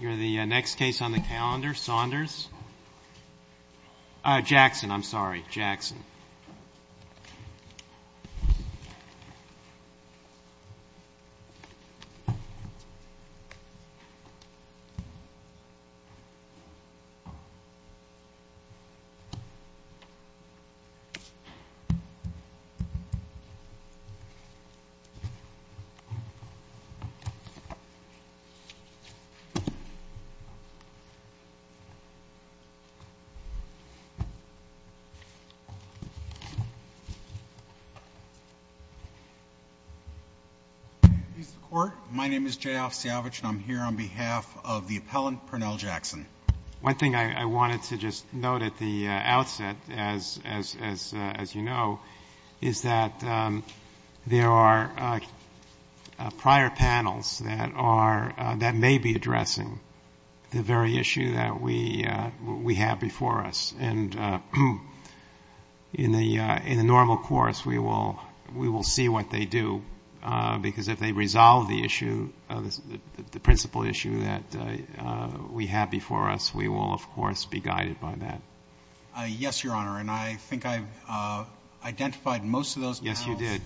You're the next case on the calendar, Saunders. Jackson, I'm sorry, Jackson. He's the Court. My name is J. Alf Siavich, and I'm here on behalf of the appellant, Pernell Jackson. One thing I wanted to just note at the outset, as you know, is that there are prior panels that are, that may be addressing the very issue that we have before us. And in the normal course, we will see what they do, because if they resolve the issue, the principal issue that we have before us, we will, of course, be guided by that. Yes, Your Honor, and I think I've identified most of those panels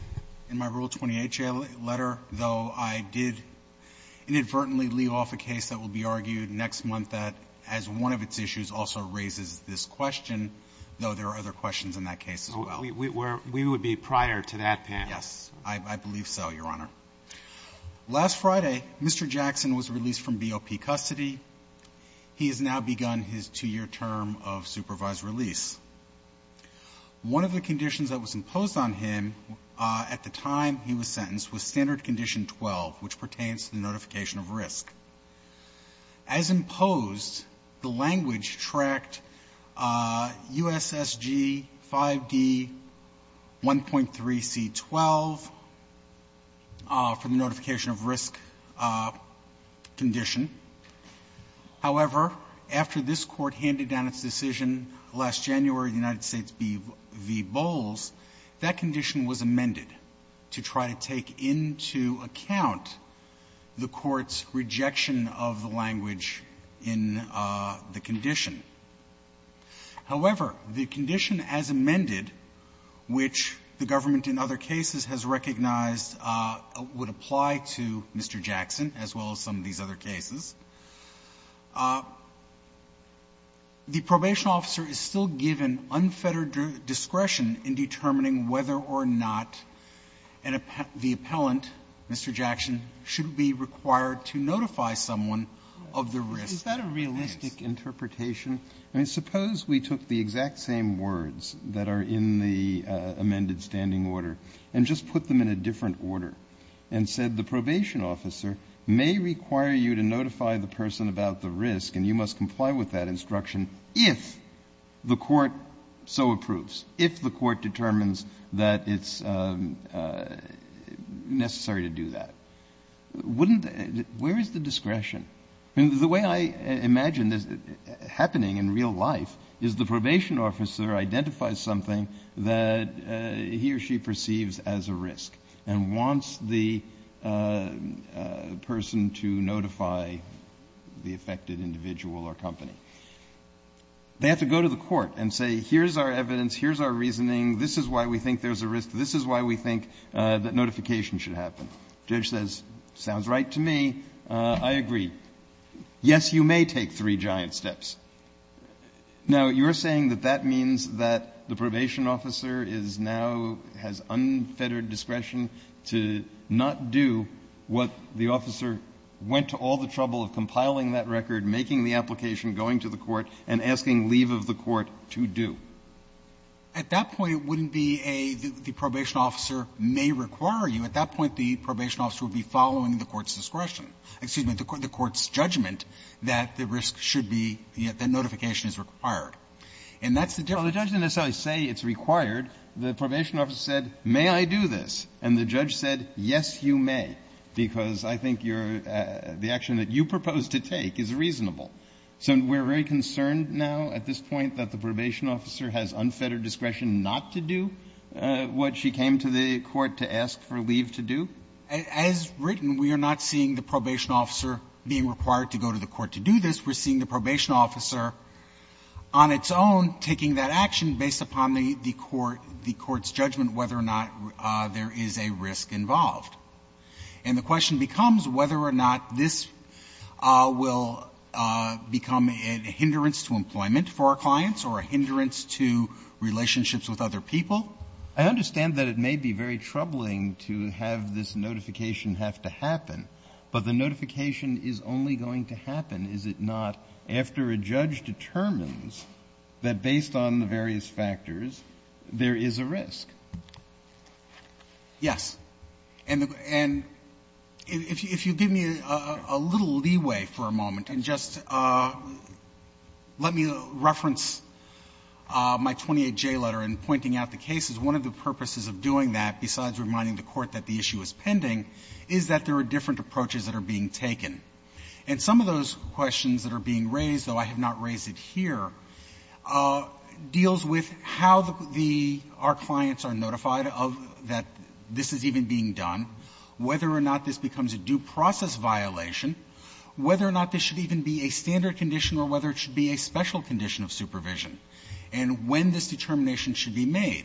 in my Rule 28 letter, though I did inadvertently leave off a case that will be argued next month that has one of its issues also raises this question, though there are other questions in that case as well. We would be prior to that panel. Yes. I believe so, Your Honor. Last Friday, Mr. Jackson was released from BOP custody. He has now begun his two-year term of supervised release. One of the conditions that was imposed on him at the time he was sentenced was standard condition 12, which pertains to the notification of risk. As imposed, the language tracked USSG 5D 1.3c12 for the notification of risk condition. However, after this Court handed down its decision last January in the United States v. Bowles, that condition was amended to try to take into account the Court's rejection of the language in the condition. However, the condition as amended, which the government in other cases has recognized would apply to Mr. Jackson as well as some of these other cases, the probation officer is still given unfettered discretion in determining whether or not the appellant, Mr. Jackson, should be required to notify someone of the risk. Roberts. Is that a realistic interpretation? I mean, suppose we took the exact same words that are in the amended standing order and just put them in a different order and said the probation officer may require you to notify the person about the risk, and you must comply with that instruction if the Court so approves, if the Court determines that it's necessary to do that. Wouldn't the — where is the discretion? I mean, the way I imagine this happening in real life is the probation officer identifies something that he or she perceives as a risk and wants the person to notify the affected individual or company. They have to go to the Court and say, here's our evidence, here's our reasoning, this is why we think there's a risk, this is why we think that notification should happen. The judge says, sounds right to me, I agree. Yes, you may take three giant steps. Now, you're saying that that means that the probation officer is now — has unfettered discretion to not do what the officer went to all the trouble of compiling that record, making the application, going to the court, and asking leave of the court to do. At that point, it wouldn't be a — the probation officer may require you. At that point, the probation officer would be following the Court's discretion — excuse me, the Court's judgment that the risk should be — that notification is required. And that's the difference. Well, the judge didn't necessarily say it's required. The probation officer said, may I do this? And the judge said, yes, you may, because I think you're — the action that you propose to take is reasonable. So we're very concerned now, at this point, that the probation officer has unfettered discretion not to do what she came to the court to ask for leave to do? As written, we are not seeing the probation officer being required to go to the court to do this. We're seeing the probation officer on its own taking that action based upon the — the Court's judgment whether or not there is a risk involved. And the question becomes whether or not this will become a hindrance to employment for our clients or a hindrance to relationships with other people. I understand that it may be very troubling to have this notification have to happen, but the notification is only going to happen, is it not, after a judge determines that based on the various factors there is a risk? Yes. And the — and if you give me a little leeway for a moment and just let me reference my 28J letter in pointing out the cases, one of the purposes of doing that, besides reminding the Court that the issue is pending, is that there are different approaches that are being taken. And some of those questions that are being raised, though are notified of that this is even being done, whether or not this becomes a due-process violation, whether or not this should even be a standard condition or whether it should be a special condition of supervision, and when this determination should be made.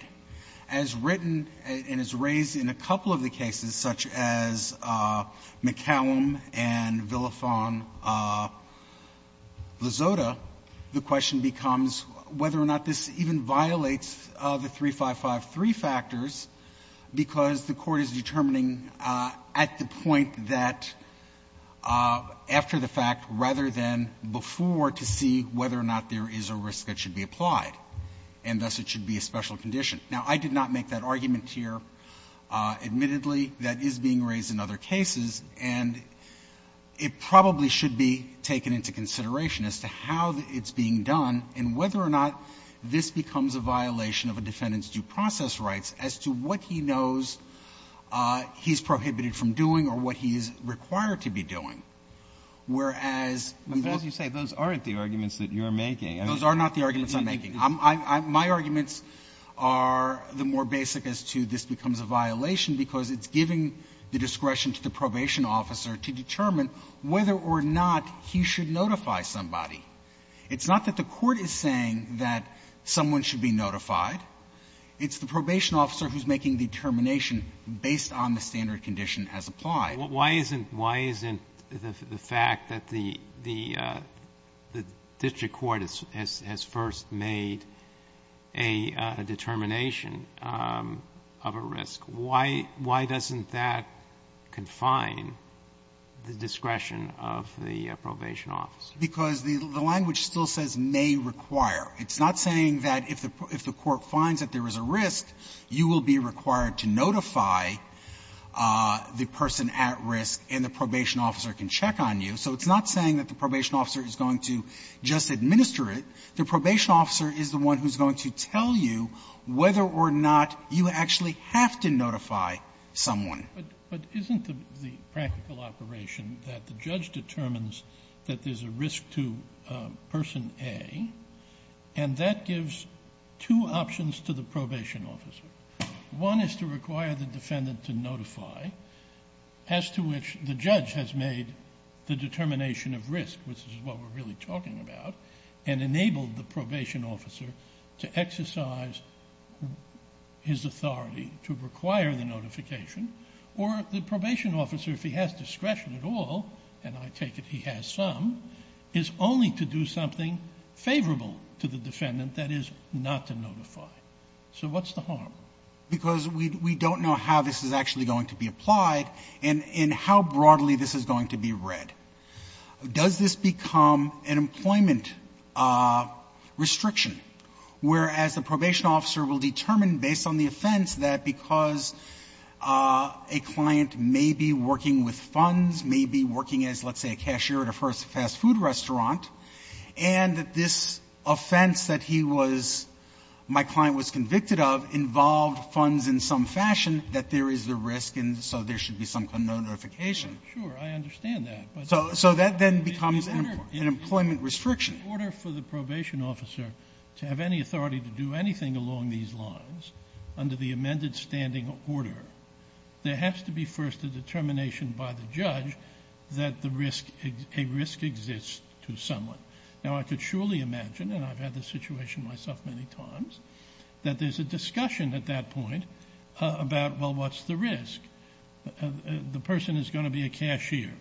As written and as raised in a couple of the cases, such as McCallum and Villaphon-Lazotta, the question becomes whether or not this even violates the 3553 factors, because the Court is determining at the point that, after the fact, rather than before, to see whether or not there is a risk that should be applied, and thus it should be a special condition. Now, I did not make that argument here. Admittedly, that is being raised in other cases, and it probably should be taken into consideration as to how it's being done and whether or not this becomes a violation of a defendant's due process rights as to what he knows he's prohibited from doing or what he's required to be doing, whereas we don't need to make any of those arguments. My arguments are the more basic as to this becomes a violation because it's giving the discretion to the probation officer to determine whether or not he should notify somebody. It's not that the Court is saying that someone should be notified. It's the probation officer who's making the determination based on the standard condition as applied. Roberts. Why isn't the fact that the district court has first made a determination of a risk, why doesn't that confine the discretion of the probation officer? Because the language still says, may require. It's not saying that if the court finds that there is a risk, you will be required to notify the person at risk and the probation officer can check on you. So it's not saying that the probation officer is going to just administer it. The probation officer is the one who's going to tell you whether or not you actually have to notify someone. But isn't the practical operation that the judge determines that there's a risk to person A, and that gives two options to the probation officer. One is to require the defendant to notify, as to which the judge has made the determination of risk, which is what we're really talking about, and enabled the probation officer to exercise his authority to require the notification. Or the probation officer, if he has discretion at all, and I take it he has some, is only to do something favorable to the defendant, that is, not to notify. So what's the harm? Because we don't know how this is actually going to be applied and how broadly this is going to be read. Does this become an employment restriction, whereas the probation officer will determine based on the offense that because a client may be working with funds, may be working as, let's say, a cashier at a fast food restaurant, and that this offense that he was, my client was convicted of, involved funds in some fashion, that there is the risk and so there should be some notification. Sure, I understand that. So that then becomes an employment restriction. In order for the probation officer to have any authority to do anything along these lines, under the amended standing order, there has to be first a determination by the judge that the risk, a risk exists to someone. Now, I could surely imagine, and I've had this situation myself many times, that there's a discussion at that point about, well, what's the risk? The person is going to be a cashier.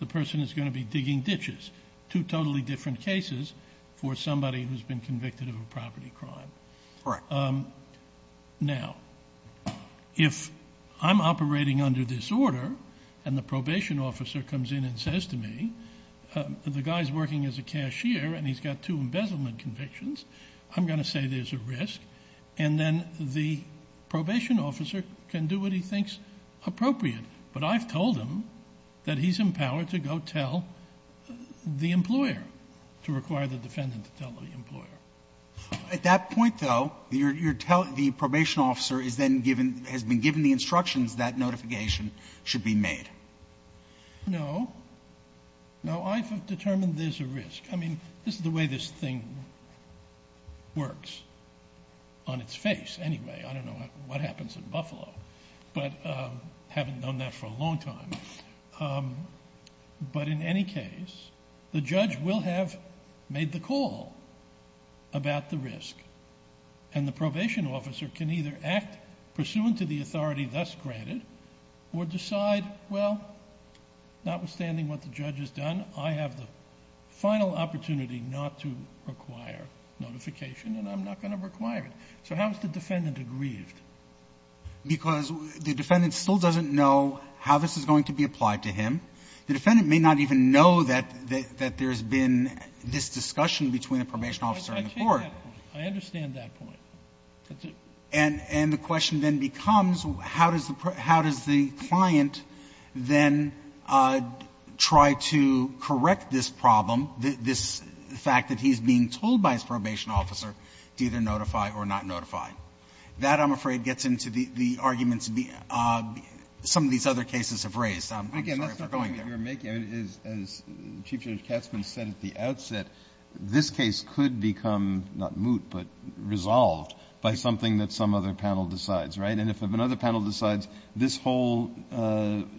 The person is going to be digging ditches. Two totally different cases for somebody who's been convicted of a property crime. Right. Now, if I'm operating under this order and the probation officer comes in and says to me, the guy's working as a cashier and he's got two embezzlement convictions, I'm going to say there's a risk. And then the probation officer can do what he thinks appropriate. But I've told him that he's empowered to go tell the employer, to require the defendant to tell the employer. At that point, though, you're telling, the probation officer is then given, has been given the instructions that notification should be made. No. No, I've determined there's a risk. I mean, this is the way this thing works. On its face, anyway, I don't know what happens in Buffalo, but haven't known that for a long time. But in any case, the judge will have made the call about the risk. And the probation officer can either act pursuant to the authority thus granted, or decide, well, notwithstanding what the judge has done, I have the final opportunity not to require notification. And I'm not going to require it. So how is the defendant aggrieved? Because the defendant still doesn't know how this is going to be applied to him. The defendant may not even know that there's been this discussion between the probation officer and the court. I take that point. I understand that point. That's it. And the question then becomes, how does the client then try to correct this problem, this fact that he's being told by his probation officer to either notify or not notify? That, I'm afraid, gets into the arguments some of these other cases have raised. I'm sorry for going there. Breyer. Again, that's not the point you're making. As Chief Judge Katzman said at the outset, this case could become not moot, but resolved by something that some other panel decides, right? And if another panel decides this whole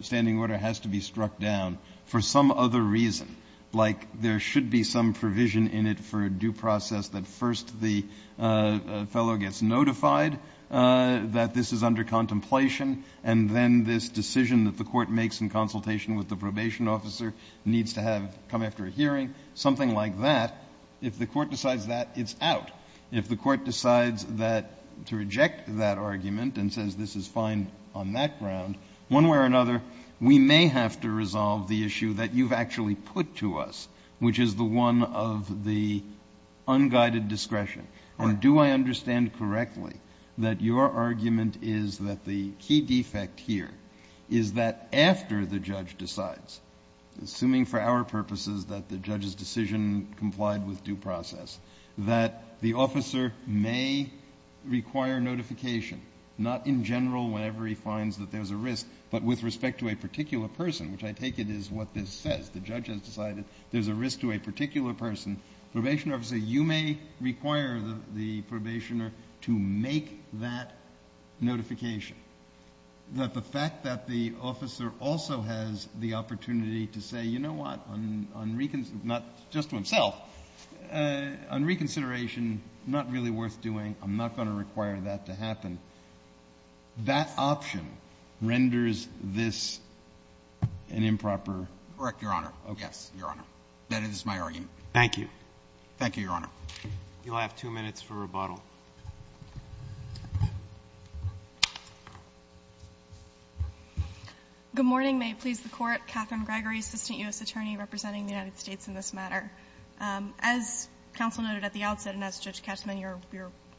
standing order has to be struck down for some other reason, like there should be some provision in it for a due process that first the fellow gets notified that this is under contemplation, and then this decision that the court makes in consultation with the probation officer needs to have come after a hearing, something like that, if the court decides that, it's out. If the court decides that to reject that argument and says this is fine on that ground, one way or another, we may have to resolve the issue that you've actually put to us, which is the one of the unguided discretion. And do I understand correctly that your argument is that the key defect here is that after the judge decides, assuming for our purposes that the judge's decision complied with due process, that the officer may require notification, not in general whenever he finds that there's a risk, but with respect to a particular person, which I take it is what this says. The judge has decided there's a risk to a particular person. Probation officer, you may require the probationer to make that notification. That the fact that the officer also has the opportunity to say, you know what, on reconsideration, not just to himself, on reconsideration, not really worth doing. I'm not going to require that to happen. That option renders this an improper? Correct, Your Honor. Yes, Your Honor. That is my argument. Thank you. Thank you, Your Honor. You'll have two minutes for rebuttal. Good morning. May it please the Court. Catherine Gregory, assistant U.S. attorney representing the United States in this matter. As counsel noted at the outset, and as Judge Katzmann, you're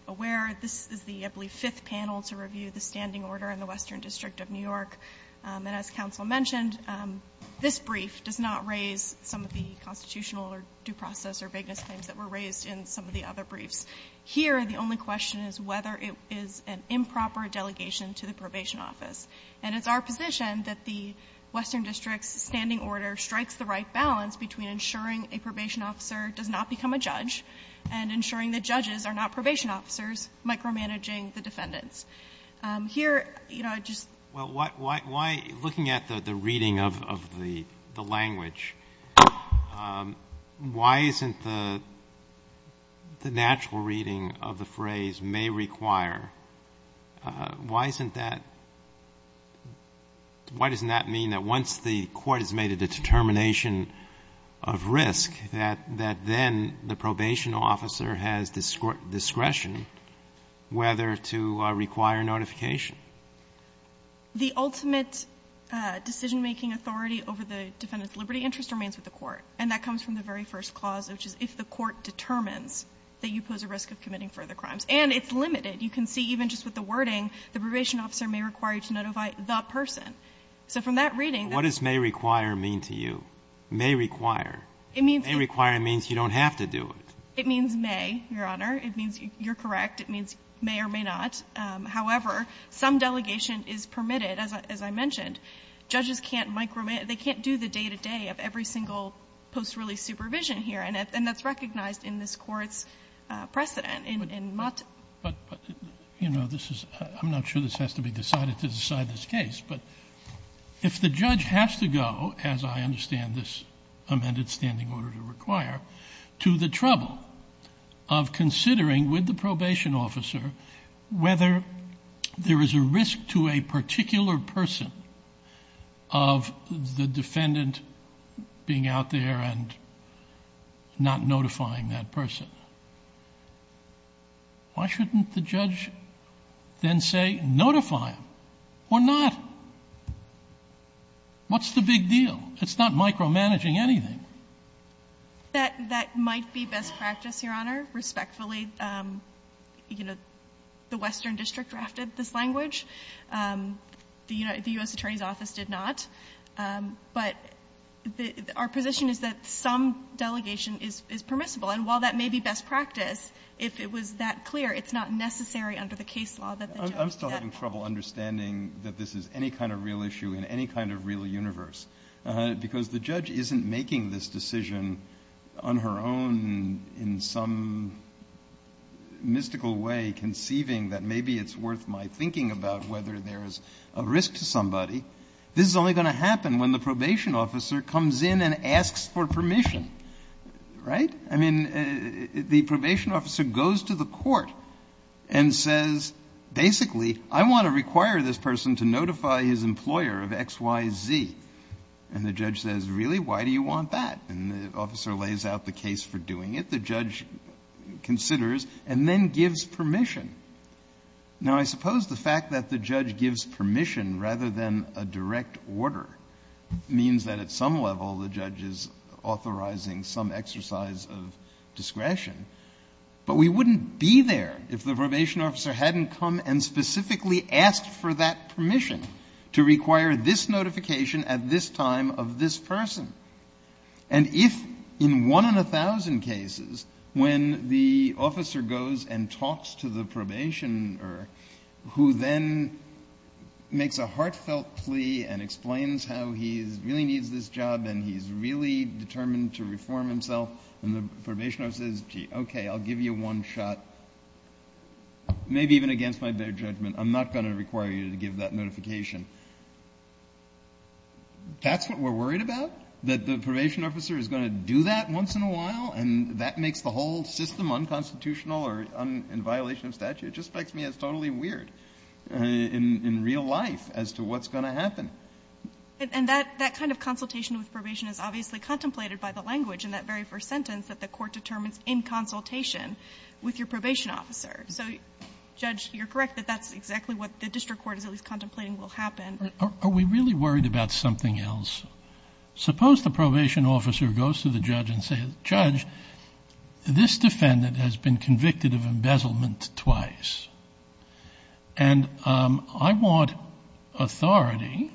aware, this is the, I believe, fifth panel to review the standing order in the Western District of New York, and as counsel mentioned, this brief does not raise some of the constitutional or due process or vagueness claims that were raised in some of the other briefs. Here, the only question is whether it is an improper delegation to the probation office, and it's our position that the Western District's standing order strikes the right balance between ensuring a probation officer does not become a judge, and ensuring that judges are not probation officers, micromanaging the defendants. Here, you know, I just... Well, why, looking at the reading of the language, why isn't the natural reading of the phrase, may require, why isn't that, why doesn't that mean that once the probation officer has discretion, whether to require notification? The ultimate decision-making authority over the defendant's liberty interest remains with the court, and that comes from the very first clause, which is if the court determines that you pose a risk of committing further crimes. And it's limited. You can see even just with the wording, the probation officer may require you to notify the person. So from that reading... What does may require mean to you? May require. It means... May require means you don't have to do it. It means may, Your Honor. It means you're correct. It means may or may not. However, some delegation is permitted, as I mentioned. Judges can't micromanage. They can't do the day-to-day of every single post-release supervision here, and that's recognized in this Court's precedent, in Mott. But, you know, this is, I'm not sure this has to be decided to decide this case. But, Your Honor, to the trouble of considering with the probation officer whether there is a risk to a particular person of the defendant being out there and not notifying that person. Why shouldn't the judge then say, notify him, or not? What's the big deal? It's not micromanaging anything. That might be best practice, Your Honor, respectfully. You know, the Western District drafted this language. The U.S. Attorney's Office did not. But our position is that some delegation is permissible. And while that may be best practice, if it was that clear, it's not necessary under the case law that the judge... I'm still having trouble understanding that this is any kind of real issue in any kind of real universe, because the judge isn't making this decision on her own in some mystical way, conceiving that maybe it's worth my thinking about whether there is a risk to somebody. This is only going to happen when the probation officer comes in and asks for permission. Right? I mean, the probation officer goes to the court and says, basically, I want to require this person to notify his employer of X, Y, Z. And the judge says, really, why do you want that? And the officer lays out the case for doing it. The judge considers and then gives permission. Now, I suppose the fact that the judge gives permission rather than a direct order means that at some level the judge is authorizing some exercise of discretion. But we wouldn't be there if the probation officer hadn't come and specifically asked for that permission to require this notification at this time of this person. And if in one in a thousand cases, when the officer goes and talks to the probationer who then makes a heartfelt plea and explains how he really needs this job and he's really determined to reform himself, and the probation officer says, gee, okay, I'll give you one shot, maybe even against my bare judgment. I'm not going to require you to give that notification. That's what we're worried about? That the probation officer is going to do that once in a while? And that makes the whole system unconstitutional or in violation of statute? It just makes me as totally weird in real life as to what's going to happen. And that kind of consultation with probation is obviously contemplated by the language in that very first sentence that the court determines in consultation with your probation officer. So, Judge, you're correct that that's exactly what the district court is at least contemplating will happen. Are we really worried about something else? Suppose the probation officer goes to the judge and says, Judge, this defendant has been convicted of embezzlement twice. And I want authority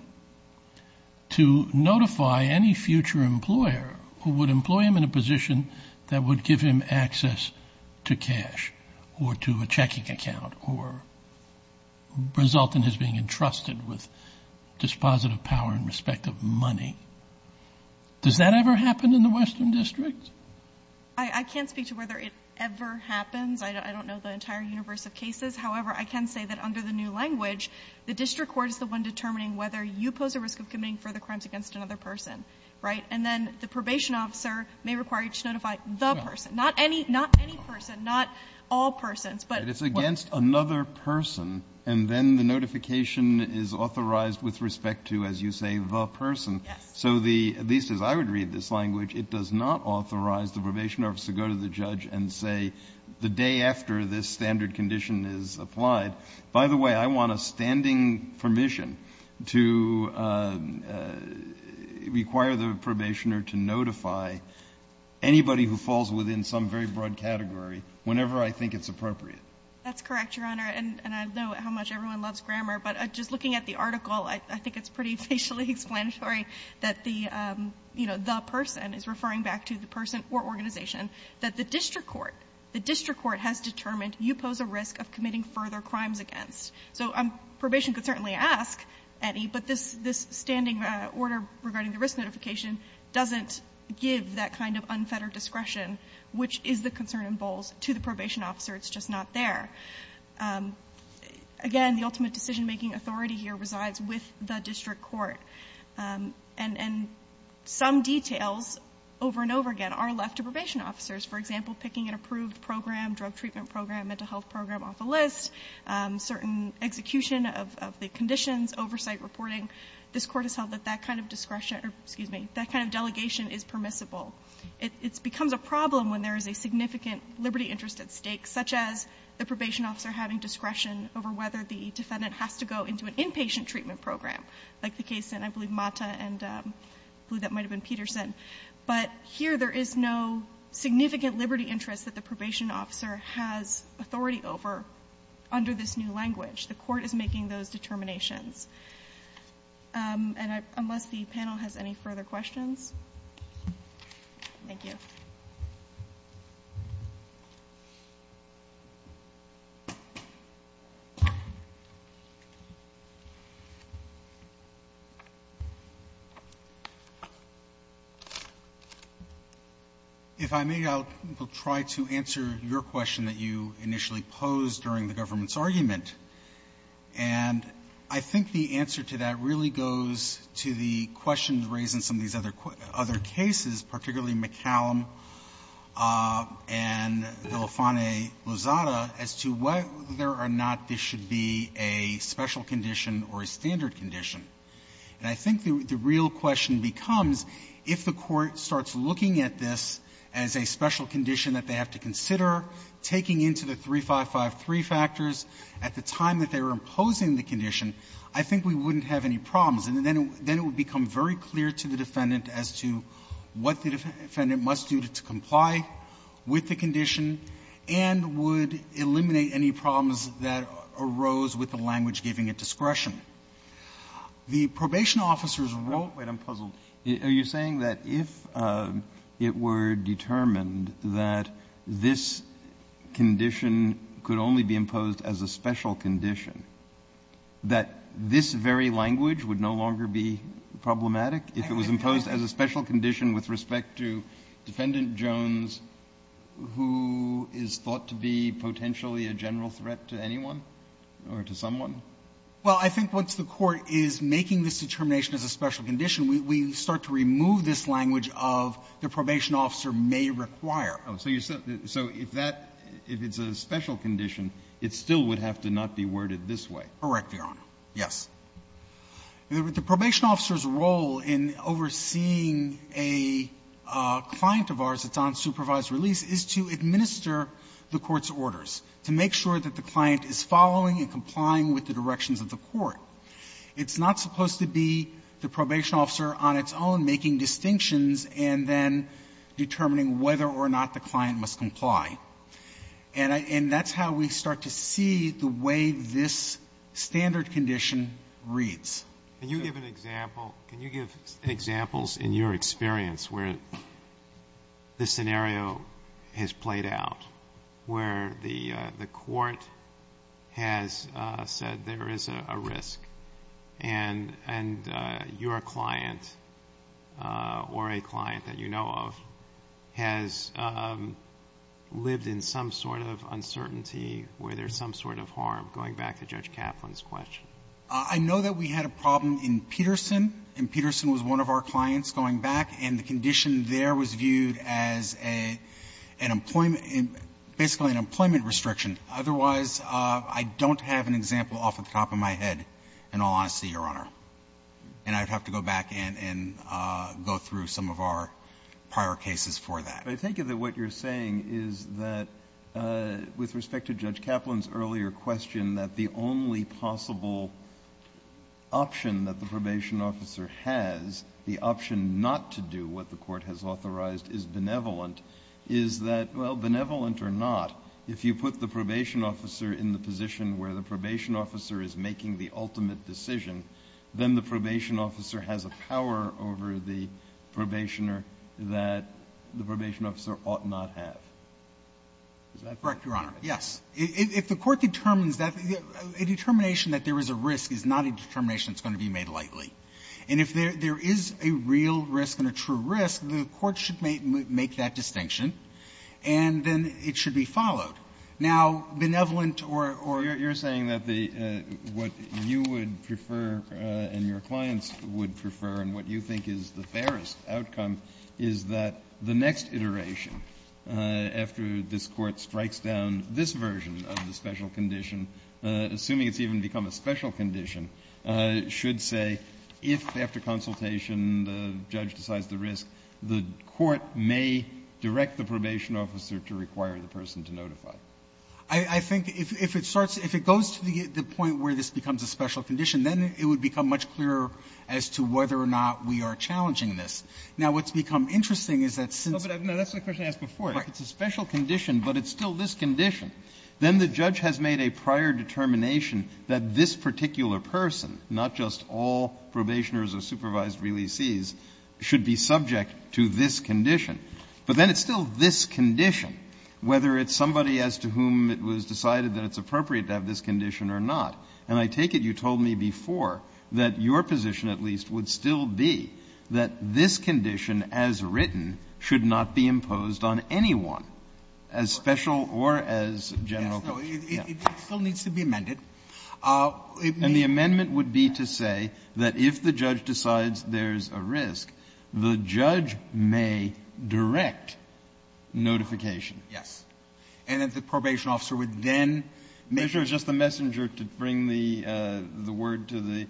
to notify any future employer who would employ him in a position that would give him access to cash or to a checking account or result in his being entrusted with dispositive power in respect of money. Does that ever happen in the Western District? I can't speak to whether it ever happens. I don't know the entire universe of cases. However, I can say that under the new language, the district court is the one determining whether you pose a risk of committing further crimes against another person, right? And then the probation officer may require you to notify the person, not any person, not all persons, but what? But it's against another person, and then the notification is authorized with respect to, as you say, the person. Yes. So the at least as I would read this language, it does not authorize the probation officer to go to the judge and say the day after this standard condition is applied. By the way, I want a standing permission to require the probationer to notify anybody who falls within some very broad category whenever I think it's appropriate. That's correct, Your Honor. And I know how much everyone loves grammar, but just looking at the article, I think it's pretty facially explanatory that the, you know, the person is referring back to the person or organization, that the district court, the district court has determined you pose a risk of committing further crimes against. So probation could certainly ask any, but this standing order regarding the risk notification doesn't give that kind of unfettered discretion, which is the concern in Bowles, to the probation officer. It's just not there. Again, the ultimate decision-making authority here resides with the district court, and some details over and over again are left to probation officers. For example, picking an approved program, drug treatment program, mental health program off a list, certain execution of the conditions, oversight reporting, this Court has held that that kind of discretion or, excuse me, that kind of delegation is permissible. It becomes a problem when there is a significant liberty interest at stake, such as the probation officer having discretion over whether the defendant has to go into an inpatient treatment program, like the case in, I believe, Mata and I believe that might have been Peterson. But here there is no significant liberty interest that the probation officer has authority over under this new language. The Court is making those determinations. And unless the panel has any further questions. Thank you. If I may, I'll try to answer your question that you initially posed during the government's argument. And I think the answer to that really goes to the questions raised in some of these other cases, particularly McCallum and Villefane-Lozada, as to whether or not this should be a special condition or a standard condition. And I think the real question becomes, if the Court starts looking at this as a special condition that they have to consider, taking into the 3553 factors at the time that they were imposing the condition, I think we wouldn't have any problems. And then it would become very clear to the defendant as to what the defendant must do to comply with the condition and would eliminate any problems that arose with the language giving it discretion. The probation officers wrote what I'm puzzled. Are you saying that if it were determined that this condition could only be imposed as a special condition, that this very language would no longer be problematic if it was imposed as a special condition with respect to Defendant Jones, who is thought to be potentially a general threat to anyone or to someone? Well, I think once the Court is making this determination as a special condition, we start to remove this language of the probation officer may require. Oh, so you're saying, so if that, if it's a special condition, it still would have to not be worded this way. Correct, Your Honor. Yes. The probation officer's role in overseeing a client of ours that's on supervised release is to administer the court's orders, to make sure that the client is following and complying with the directions of the court. It's not supposed to be the probation officer on its own making distinctions and then determining whether or not the client must comply. And that's how we start to see the way this standard condition reads. Can you give an example? Can you give examples in your experience where the scenario has played out, where the court has said there is a risk and your client or a client that you know of has lived in some sort of uncertainty where there's some sort of harm, going back to Judge Kaplan's question? I know that we had a problem in Peterson, and Peterson was one of our clients going back, and the condition there was viewed as a employment, basically an employment restriction. Otherwise, I don't have an example off the top of my head, in all honesty, Your Honor. And I'd have to go back and go through some of our prior cases for that. But I think that what you're saying is that, with respect to Judge Kaplan's earlier question, that the only possible option that the probation officer has, the option not to do what the court has authorized is benevolent, is that, well, benevolent or not, if you put the probation officer in the position where the probation officer is making the ultimate decision, then the probation officer has a power over the probationer that the probation officer ought not have. Is that correct, Your Honor? Yes. If the court determines that, a determination that there is a risk is not a determination that's going to be made lightly. And if there is a real risk and a true risk, the court should make that distinction, and then it should be followed. Now, benevolent or or you're saying that the, what you would prefer and your clients would prefer and what you think is the fairest outcome is that the next iteration after this Court strikes down this version of the special condition, assuming it's even become a special condition, should say if after consultation the judge decides the risk, the court may direct the probation officer to require the person to notify. I think if it starts, if it goes to the point where this becomes a special condition, then it would become much clearer as to whether or not we are challenging this. But if it's a special condition, but it's still this condition, then the judge has made a prior determination that this particular person, not just all probationers or supervised releasees, should be subject to this condition. But then it's still this condition, whether it's somebody as to whom it was decided that it's appropriate to have this condition or not. And I take it you told me before that your position at least would still be that this condition as written should not be imposed on anyone as special or as general Yeah. Verrilli, It still needs to be amended. It may be amended. Kennedy, And the amendment would be to say that if the judge decides there's a risk, the judge may direct notification. Verrilli, Yes. And that the probation officer would then make a decision. Kennedy, Mr. Verrilli, just the messenger to bring the word to the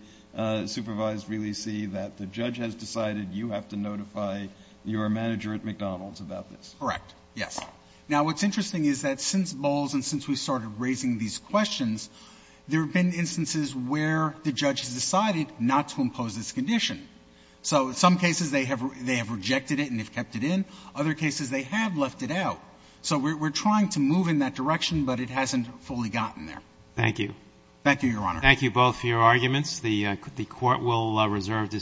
supervised releasee that the judge has decided you have to notify your manager at McDonald's Verrilli, Correct. Yes. Now, what's interesting is that since Bowles and since we started raising these questions, there have been instances where the judge has decided not to impose this condition. So in some cases they have rejected it and have kept it in. Other cases they have left it out. So we're trying to move in that direction, but it hasn't fully gotten there. Roberts, Thank you. Verrilli, Thank you, Your Honor. Roberts, Thank you both for your arguments. The court will reserve